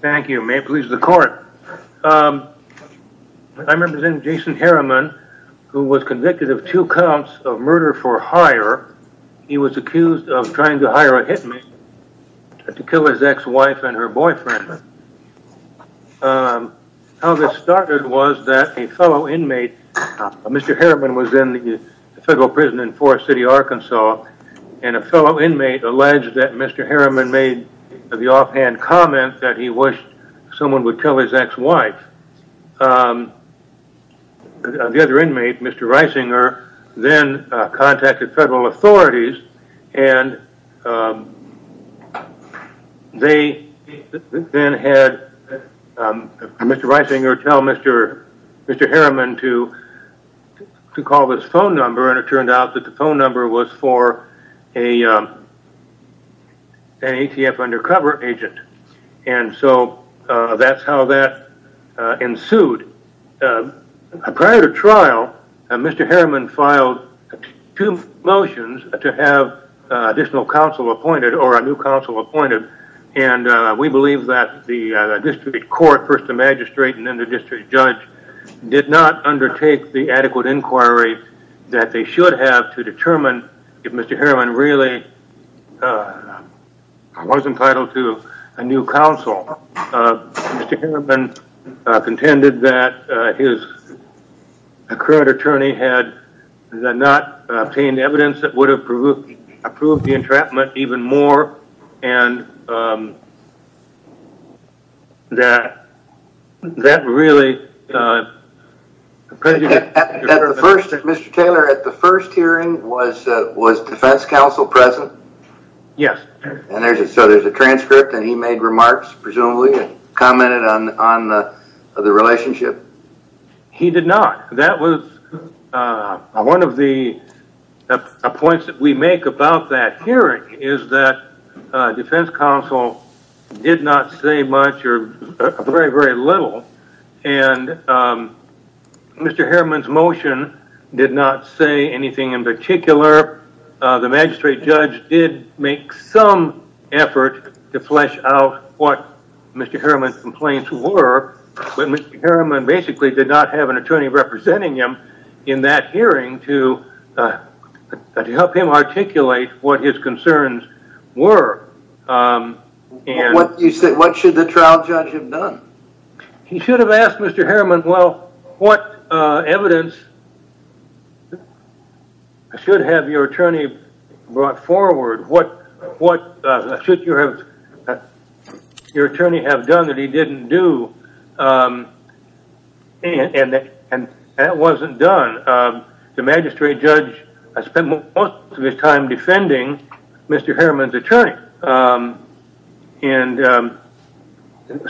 Thank you. May it please the court. I represent Jason Harriman who was convicted of two counts of murder for hire. He was accused of trying to hire a hit man to kill his ex-wife and her boyfriend. How this started was that a fellow inmate, Mr. Harriman was in the federal prison in Forest City, Arkansas, and a fellow inmate alleged that Mr. Harriman made the offhand comment that he wished someone would tell his ex-wife. The other inmate, Mr. Reisinger, then contacted federal authorities and they then had Mr. Reisinger tell Mr. Harriman to call this phone number and it so that's how that ensued. Prior to trial, Mr. Harriman filed two motions to have additional counsel appointed or a new counsel appointed and we believe that the district court, first the magistrate and then the district judge, did not undertake the adequate inquiry that they should have to determine if Mr. Harriman really was entitled to a new counsel. Mr. Harriman contended that his current attorney had not obtained evidence that would have approved the entrapment even more and that really... Mr. Taylor, at the first hearing, was defense counsel present? Yes. So there's a transcript and he made remarks, presumably, and commented on the relationship? He did not. That was one of the points that we make about that hearing is that defense counsel did not say much or very, very little and Mr. Harriman's motion did not say anything in particular. The magistrate judge did make some effort to flesh out what Mr. Harriman's complaints were, but Mr. Harriman basically did not have an attorney representing him in that hearing to help him articulate what his concerns were. What should the trial judge have done? He should have asked Mr. Harriman, well, what evidence should have your attorney brought up? And that wasn't done. The magistrate judge spent most of his time defending Mr. Harriman's attorney.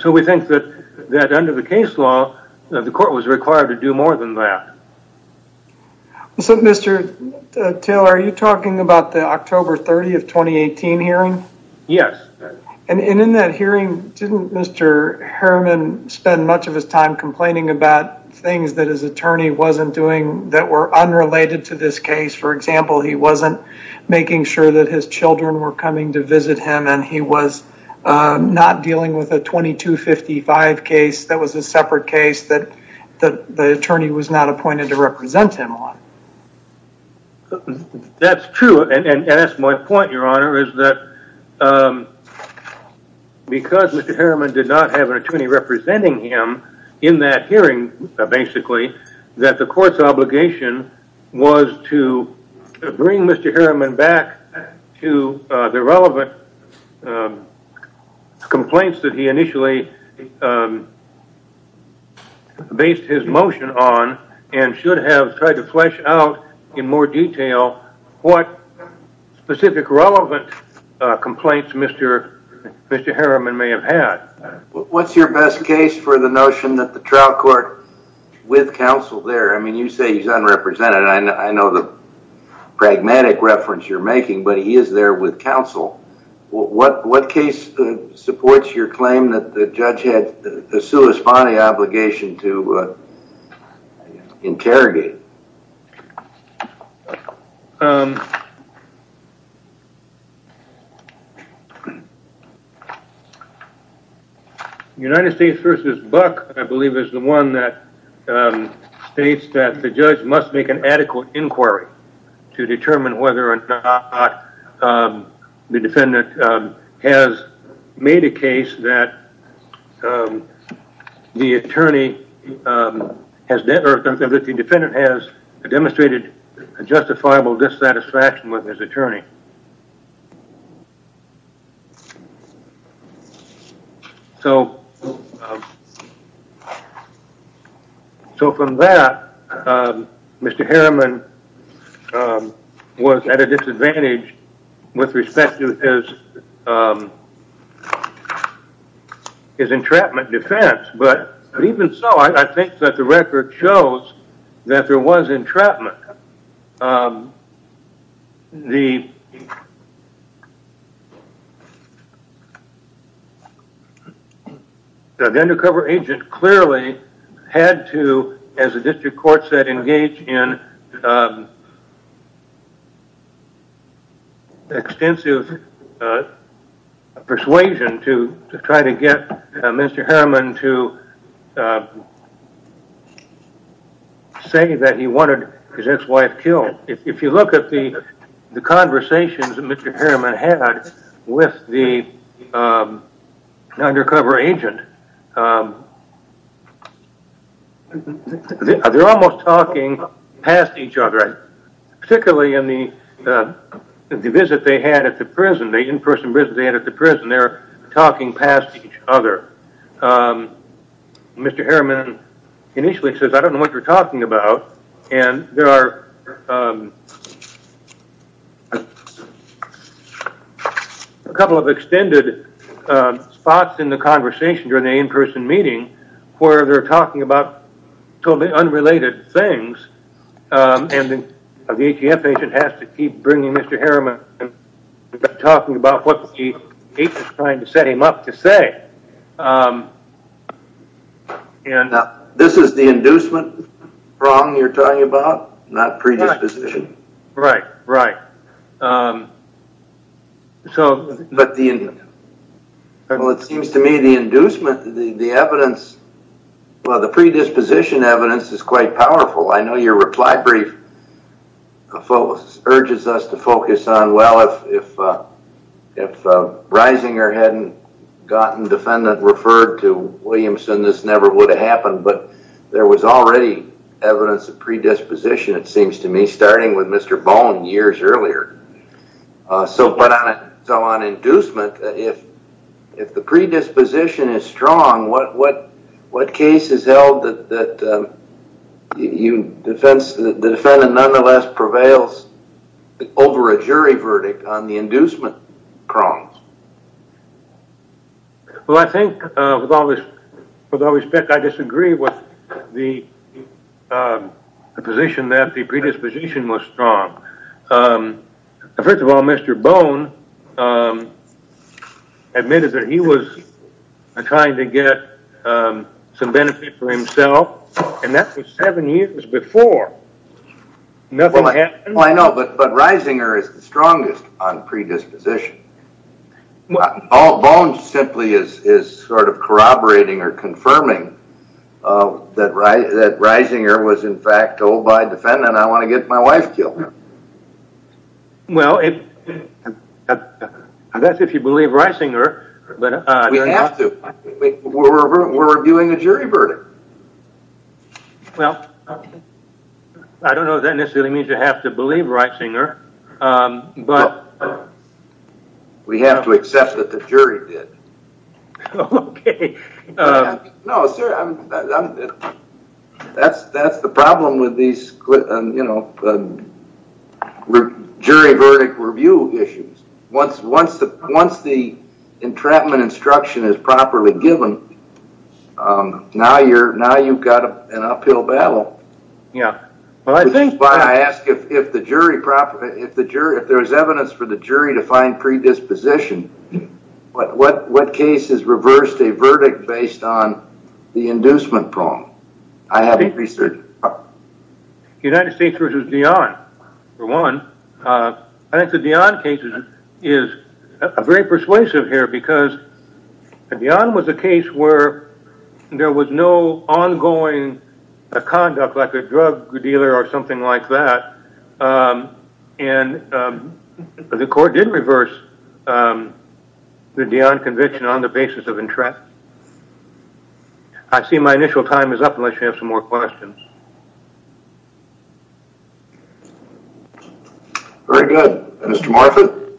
So we think that under the case law, the court was required to do more than that. So Mr. Taylor, are you talking about the October 30th, 2018 hearing? Yes. And in that Harriman spent much of his time complaining about things that his attorney wasn't doing that were unrelated to this case. For example, he wasn't making sure that his children were coming to visit him and he was not dealing with a 2255 case that was a separate case that the attorney was not appointed to represent him on. That's true. And that's my point, your honor, is that because Mr. Harriman did not have an attorney representing him in that hearing, basically, that the court's obligation was to bring Mr. Harriman back to the relevant complaints that he initially based his motion on and should have tried to flesh out in more detail what specific relevant complaints Mr. Harriman may have had. What's your best case for the notion that the trial court with counsel there, I mean, you say he's unrepresented. I know the pragmatic reference you're making, but he is there with counsel. What case supports your view? United States versus Buck, I believe, is the one that states that the judge must make an adequate inquiry to determine whether or not the defendant has made a case that the attorney or the defendant has demonstrated a justifiable dissatisfaction with his attorney. So from that, Mr. Harriman was at a disadvantage with respect to his entrapment defense. But even so, I think that the record shows that there was entrapment. The undercover agent clearly had to, as the district court said, engage in extensive persuasion to try to get Mr. Harriman to say that he wanted his ex-wife killed. If you look at the conversations that Mr. Harriman had with the undercover agent, they're almost talking past each other. Particularly in the visit they had at the prison, the in-person visit they had at the prison, they're talking past each other. Mr. Harriman initially says, I don't know what you're talking about. And there are a couple of extended spots in the conversation during the in-person meeting where they're talking about totally unrelated things. And the ATF agent has to keep bringing Mr. Harriman talking about what the agent is trying to set him up to say. This is the inducement wrong you're talking about? Not predisposition? Right, right. Well, it seems to me the inducement, the evidence, well, the predisposition evidence is quite powerful. I know your reply brief urges us to focus on, well, if Reisinger hadn't gotten defendant referred to Williamson, this never would have happened. But there was already evidence of predisposition, it seems to me, starting with Mr. Bone years earlier. So on inducement, if the predisposition is strong, what case is held that the defendant nonetheless prevails over a jury verdict on the predisposition was strong? First of all, Mr. Bone admitted that he was trying to get some benefit for himself, and that was seven years before. Nothing happened. Well, I know, but Reisinger is the strongest on predisposition. Well, all bone simply is sort of corroborating or confirming that Reisinger was in fact told by defendant I want to get my wife killed. Well, that's if you believe Reisinger. We have to. We're reviewing a jury verdict. Well, I don't know if that necessarily means you have to believe Reisinger. We have to accept that the jury did. That's the problem with these jury verdict review issues. Once the entrapment instruction is proper, if there's evidence for the jury to find predisposition, what case is reversed a verdict based on the inducement problem? I haven't researched that. United States versus Dionne, for one. I think the Dionne case is very persuasive here because Dionne was a case where there was no ongoing conduct like a drug dealer or something like that, and the court did reverse the Dionne conviction on the basis of entrapment. I see my initial time is up unless you have some more questions. Very good. Mr. Morfitt?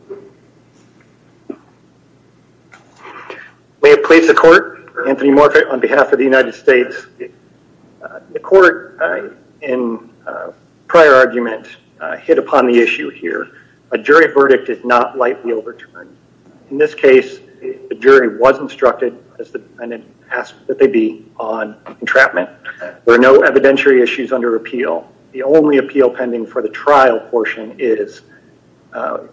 May it please the court. Anthony Morfitt on behalf of the United States. The court in prior argument hit upon the issue here. A jury verdict did not lightly overturn. In this case, the jury was instructed as the defendant asked that they be on entrapment. There are no evidentiary issues under appeal. The only appeal pending for the trial portion is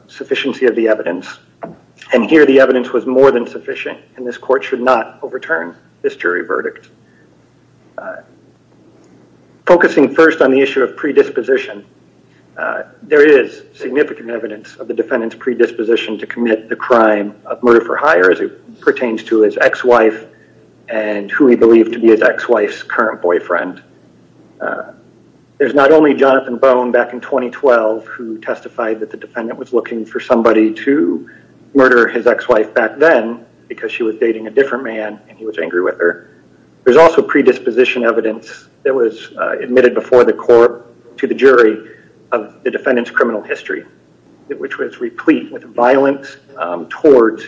sufficiency of the evidence, and here the evidence was more than sufficient, and this court should not overturn this jury verdict. Focusing first on the issue of predisposition, there is significant evidence of the defendant's predisposition to commit the crime of murder for hire as it pertains to his ex-wife and who he believed to be his ex-wife's current boyfriend. There's not only Jonathan Bone back in 2012 who testified that the defendant was looking for somebody to murder his ex-wife back then because she was dating a different man and he was angry with her. There's also predisposition evidence that was admitted before the court to the jury of the defendant's criminal history, which was replete with violence towards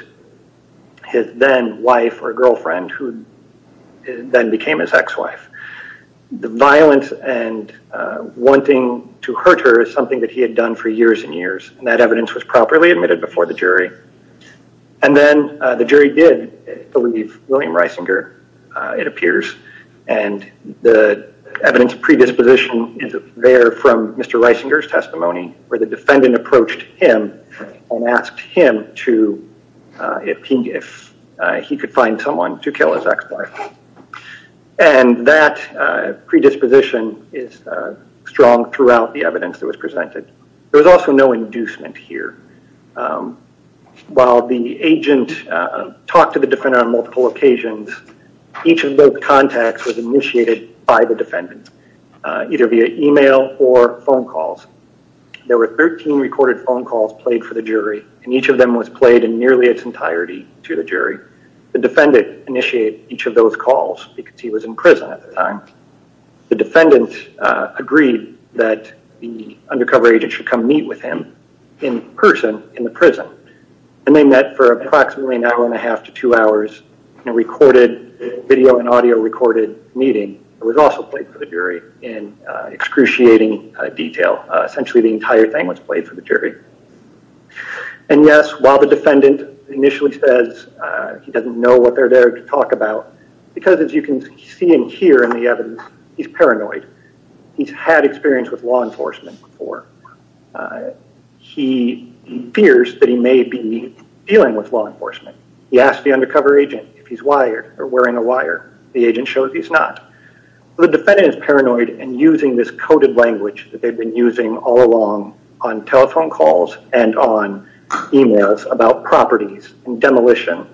his then wife or girlfriend who then became his ex-wife. The violence and wanting to hurt her is something that he had done for years and years, and that evidence was properly admitted before the jury, and then the jury did believe William Reisinger, it appears, and the evidence predisposition is there from Mr. Reisinger's testimony where the defendant approached him and asked him if he could find someone to kill his ex-wife. And that predisposition is strong throughout the evidence that was presented. There was also no inducement here. While the agent talked to the defendant on multiple occasions, each of those contacts was initiated by the defendant, either via email or phone calls. There were 13 recorded phone calls played for the jury, and each of them was played in nearly its entirety to the jury. The defendant initiated each of those calls because he was in prison at the time. The defendant agreed that the undercover agent should come meet with him in person in the prison, and they met for approximately an hour and a half to two hours in a recorded video and audio recorded meeting. It was also played for the jury in excruciating detail. Essentially the entire thing was played for the jury. And yes, while the defendant initially says he doesn't know what they're there to talk about, because as you can see and hear in the evidence, he's paranoid. He's had experience with law enforcement before. He fears that he may be dealing with law enforcement. He asked the undercover agent if he's wired or wearing a wire. The agent shows he's not. The defendant is paranoid and using this coded language that they've been using all along on telephone calls and on emails about properties and demolition.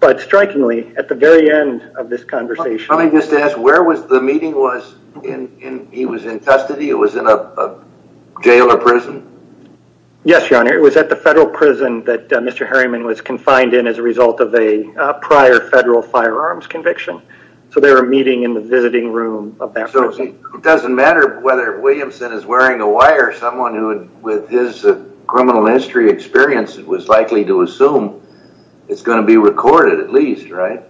But strikingly, at the very end of this conversation... Let me just ask, where was the meeting? He was in custody? It was in a jail or prison? Yes, Your Honor. It was at the federal prison that Mr. Harriman was confined in as a result of a prior federal firearms conviction. So they were meeting in the visiting room of that prison. It doesn't matter whether Williamson is wearing a wire, someone with his criminal history experience was likely to assume it's going to be recorded at least, right?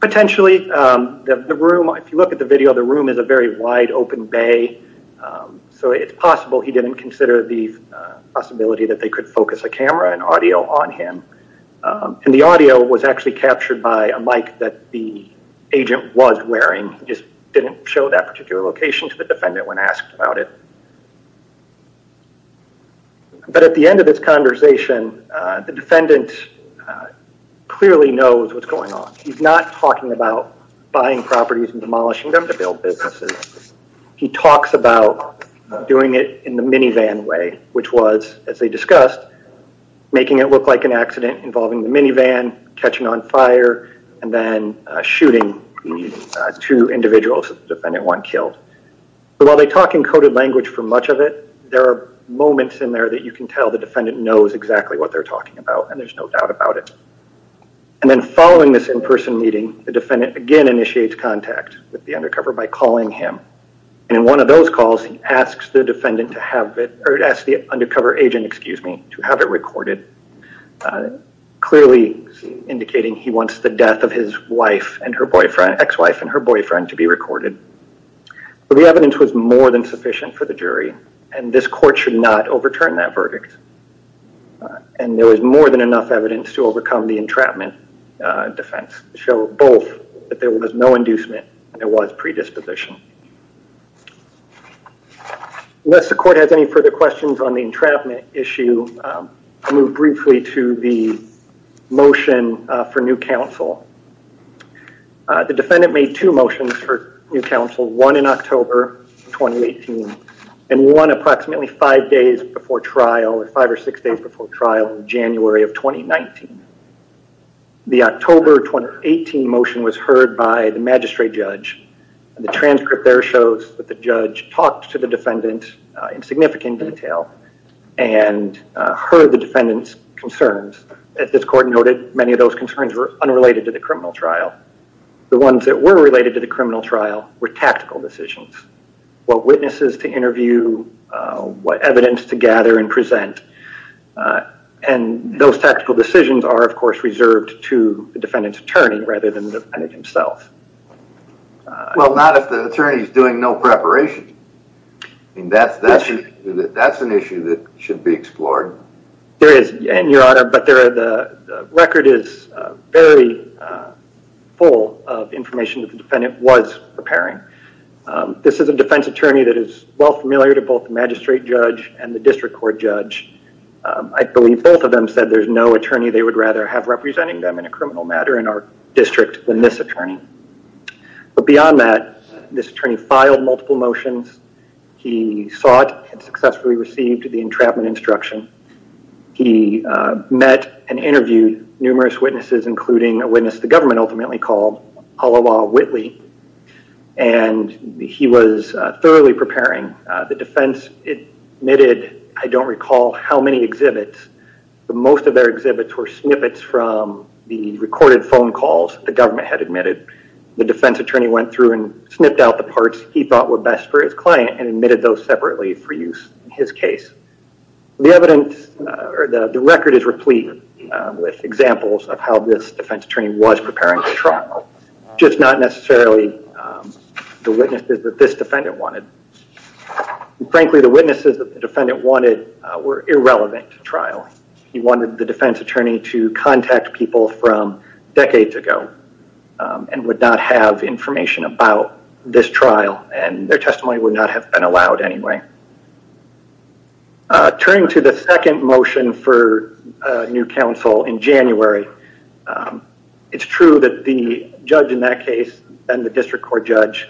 Potentially. The room, if you look at the video, the room is a very wide open bay. So it's possible he didn't consider the possibility that they could focus a camera and audio on him. And the audio was actually captured by a mic that the agent was wearing, just didn't show that particular location to the defendant when asked about it. But at the end of this conversation, the defendant clearly knows what's going on. He's not talking about buying properties and demolishing them to build businesses. He talks about doing it in the minivan way, which was, as they discussed, making it look like an accident involving the minivan, catching on fire, and then shooting two individuals, defendant one killed. While they talk in coded language for much of it, there are moments in there that you can tell the defendant knows exactly what they're talking about, and there's no doubt about it. And then following this in-person meeting, the defendant again initiates contact with the undercover by calling him. And in one of those calls, he asks the defendant to have it, or asks the undercover agent, to have it recorded, clearly indicating he wants the death of his wife and her boyfriend, ex-wife and her boyfriend to be recorded. But the evidence was more than sufficient for the jury, and this court should not overturn that verdict. And there was more than enough evidence to overcome the entrapment defense to show both that there was no inducement, there was predisposition. Unless the court has any further questions on the entrapment issue, I'll move briefly to the motion for new counsel. The defendant made two motions for new counsel, one in October 2018, and one approximately five days before trial, or five or six days before trial in January of 2019. The October 2018 motion was heard by the magistrate judge, and the transcript there shows that the judge talked to the defendant in significant detail, and heard the defendant's concerns. As this court noted, many of those concerns were unrelated to the criminal trial. The ones that were related to the criminal trial were tactical decisions. What witnesses to interview, what evidence to gather and present. And those tactical decisions are, of course, reserved to the defendant's attorney rather than the defendant himself. Well, not if the attorney is doing no preparation. That's an issue that should be explored. There is, and your honor, but the record is very full of information that the defendant was preparing. This is a defense attorney that is well familiar to both the magistrate judge and the district court judge. I believe both of them said there's no attorney they would rather have representing them in a criminal matter in our district than this attorney. But beyond that, this attorney filed multiple motions. He sought and successfully received the entrapment instruction. He met and interviewed numerous witnesses, including a witness the government ultimately called Aloha Whitley, and he was thoroughly preparing. The defense admitted, I don't recall how many exhibits, but most of their exhibits were snippets from the recorded phone calls the government had admitted. The defense attorney went through and snipped out the parts he thought were best for his client and admitted those separately for use in his case. The record is replete with examples of how this defense attorney was preparing the trial, just not necessarily the witnesses that this defendant wanted. Frankly, the witnesses the defendant wanted were irrelevant to trial. He wanted the defense attorney to contact people from decades ago and would not have information about this trial, and their testimony would not have been allowed anyway. Turning to the second motion for new counsel in January, it's true that the judge in that case and the district court judge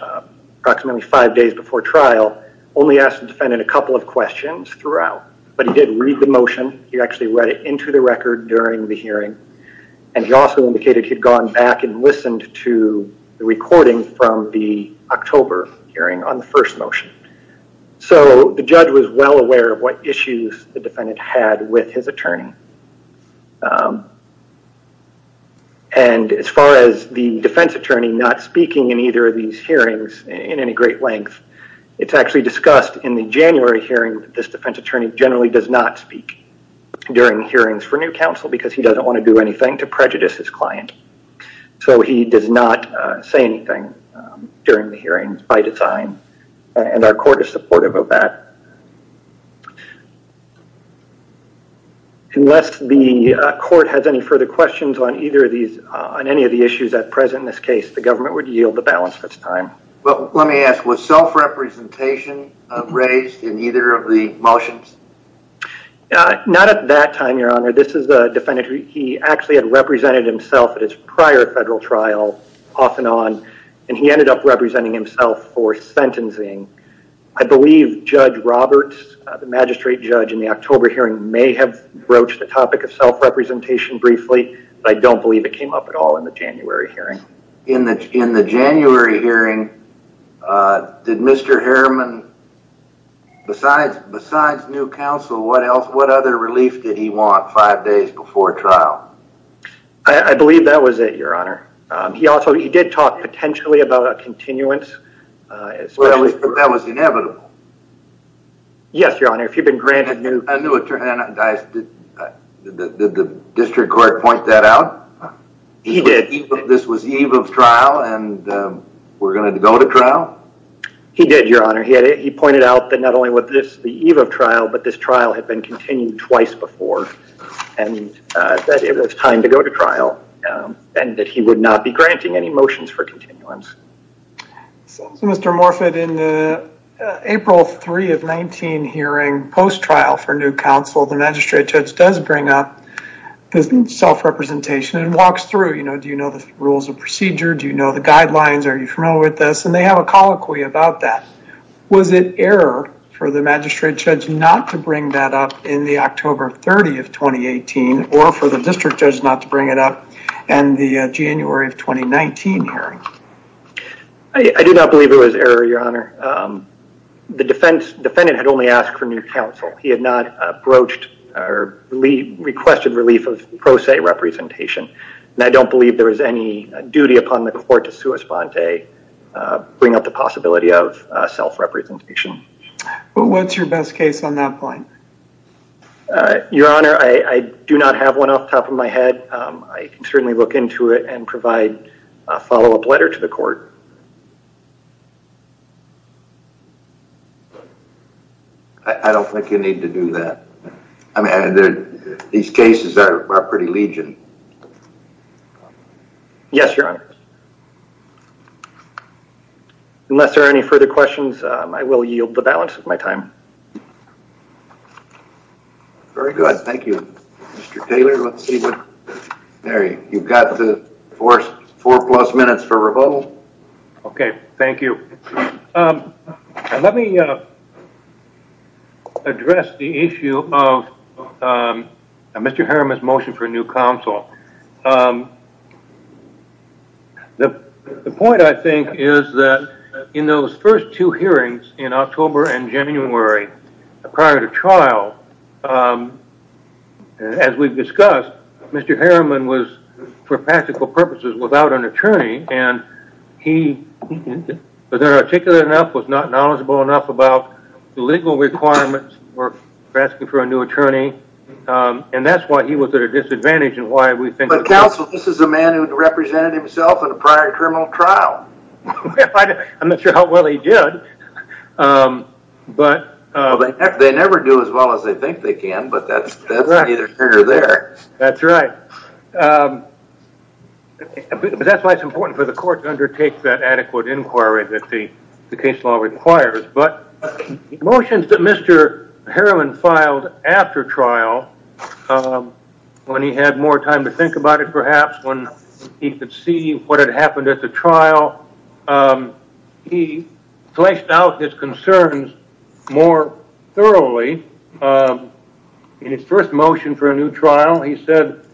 approximately five days before trial only asked the defendant a couple of questions throughout, but he did read the motion. He actually read it into the record during the hearing, and he also indicated he had gone back and listened to the recording from the October hearing on the first motion. So the judge was well aware of what issues the defendant had with his attorney. And as far as the defense attorney not speaking in either of these hearings in any great length, it's actually discussed in the January hearing that this defense attorney generally does not speak during hearings for new counsel because he doesn't want to do anything to prejudice his client. So he does not say anything during the hearings by design, and our court is supportive of that. Unless the court has any further questions on either of these, on any of the issues at present in this case, the government would yield the balance of its time. But let me ask, was self-representation raised in either of the motions? Not at that time, your honor. This is the defendant who he actually had represented himself at his prior federal trial off and on, and he ended up representing himself for sentencing. I believe Judge Roberts, the magistrate judge in the October hearing may have broached the topic of self-representation briefly, but I don't believe it came up at all in the January hearing. In the January hearing, did Mr. Harriman, besides new counsel, what other relief did he want five days before trial? I believe that was it, your honor. He did talk potentially about a continuance. But that was inevitable. Yes, your honor, if you've been granted new... I knew it turned out... Did the district court point that out? He did. This was eve of trial, and we're going to go to trial? He did, your honor. He pointed out that not only was this the eve of trial, but this trial had been continued twice before, and that it was time to go to trial, and that he would not be granting any motions for continuance. So Mr. Morfitt, in the April 3 of 19 hearing, post-trial for new counsel, the magistrate judge does bring up self-representation and walks through. Do you know the rules of procedure? Do you know the guidelines? Are you familiar with this? And they have a colloquy about that. Was it error for the magistrate judge not to bring that up in the October 30 of 2018, or for the district judge not to bring it up in the January of 2019 hearing? I do not believe it was error, your honor. The defendant had only asked for new counsel. He had not broached or requested relief of pro se representation, and I don't believe there was any duty upon the court to sua sponte, bring up the possibility of self-representation. But what's your best case on that point? Your honor, I do not have one off the top of my head. I can certainly look into it and follow-up letter to the court. I don't think you need to do that. These cases are pretty legion. Yes, your honor. Unless there are any further questions, I will yield the balance of my time. Very good. Thank you. Mr. Taylor, let's see. There you've got the four plus minutes for rebuttal. Okay. Thank you. Let me address the issue of Mr. Harriman's motion for new counsel. The point, I think, is that in those first two hearings in October and January, prior to trial, as we've discussed, Mr. Harriman was, for practical purposes, without an attorney, and he was not articulate enough, was not knowledgeable enough about the legal requirements for asking for a new attorney, and that's why he was at a disadvantage. But counsel, this is a man who represented himself in a prior criminal trial. I'm not sure how well he did. They never do as well as they think they can, but that's either here or there. That's right. That's why it's important for the court to undertake that adequate inquiry that the case law requires. But motions that Mr. Harriman filed after trial, when he had more time to think about it, perhaps, when he could see what had happened at the trial, he fleshed out his concerns more thoroughly. In his first motion for a new trial, he said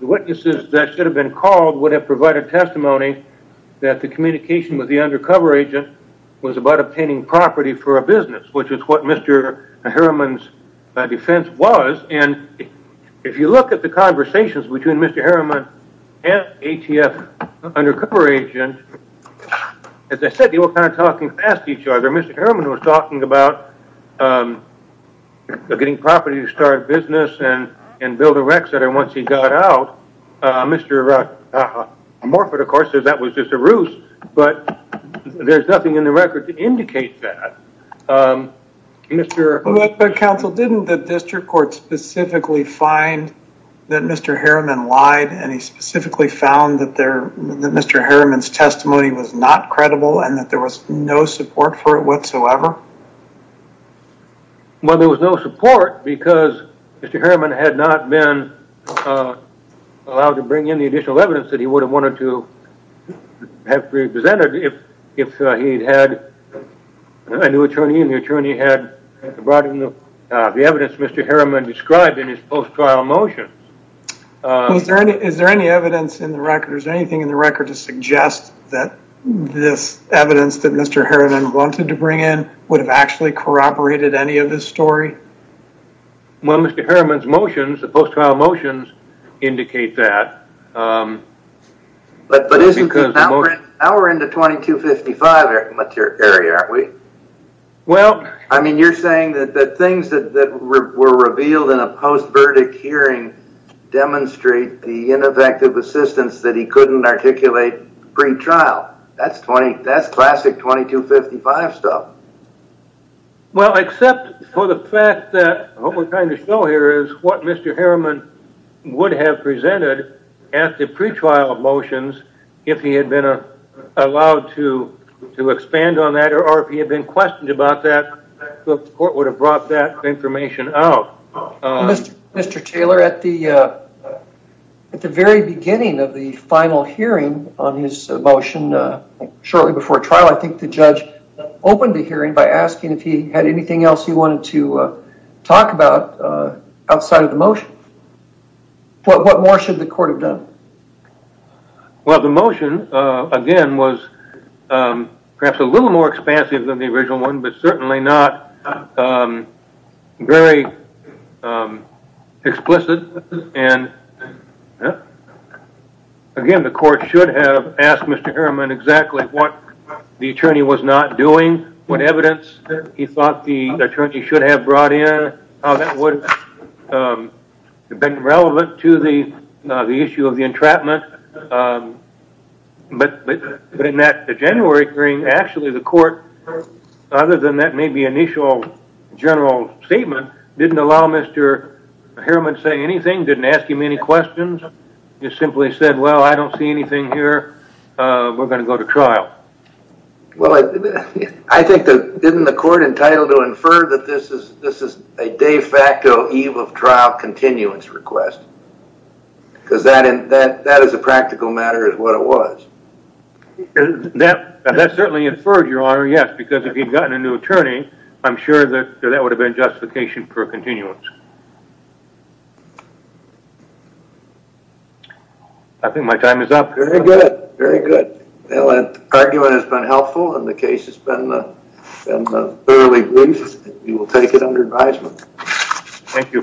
the witnesses that should have been called would have provided testimony that the communication with the undercover agent was about obtaining property for a business, which is what Mr. Harriman's defense was, and if you look at the conversations between Mr. Harriman and ATF undercover agent, as I said, they were kind of talking past each other. Mr. Harriman was talking about getting property to start a business and build a rec center. Once he got out, Mr. Morford, of course, said that was just a ruse, but there's nothing in the record to indicate that. Counsel, didn't the district court specifically find that Mr. Harriman lied and he specifically found that Mr. Harriman's testimony was not credible and that there was no support for it whatsoever? Well, there was no support because Mr. Harriman had not been allowed to bring in the additional evidence that he would have wanted to have presented if he'd had a new attorney and the attorney had brought in the evidence Mr. Harriman described in his post-trial motion. Is there any evidence in the record, is there anything in the record to suggest that this evidence that Mr. Harriman wanted to bring in would have actually corroborated any of this story? Well, Mr. Harriman's motions, the post-trial motions indicate that. Now we're into 2255 area, aren't we? I mean, you're saying that the things that were revealed in a post-verdict hearing demonstrate the ineffective assistance that he couldn't articulate pre-trial. That's classic 2255 stuff. Well, except for the fact that what we're trying to show here is what Mr. Harriman would have presented at the pre-trial motions if he had been allowed to expand on that or if he had been questioned about that, the court would have brought that information out. Mr. Taylor, at the very beginning of the final hearing on his motion shortly before trial, I think the judge opened the hearing by asking if he had anything else he wanted to talk about outside of the motion. What more should the court have done? Well, the motion, again, was perhaps a little more expansive than the original one, but certainly not very explicit. And again, the court should have asked Mr. Harriman exactly what the attorney was not doing, what evidence he thought the attorney should have brought in, how that would have been relevant to the issue of the entrapment. But in that January hearing, actually the court, other than that maybe initial general statement, didn't allow Mr. Harriman to say anything, didn't ask him any questions. He simply said, I don't see anything here. We're going to go to trial. Well, I think didn't the court entitle to infer that this is a de facto eve of trial continuance request? Because that is a practical matter is what it was. That certainly inferred, Your Honor, yes, because if he had gotten a new attorney, I'm sure that would have been justification for continuance. I think my time is up. Very good. Very good. Well, that argument has been helpful and the case has been thoroughly briefed. We will take it under advisement. Thank you.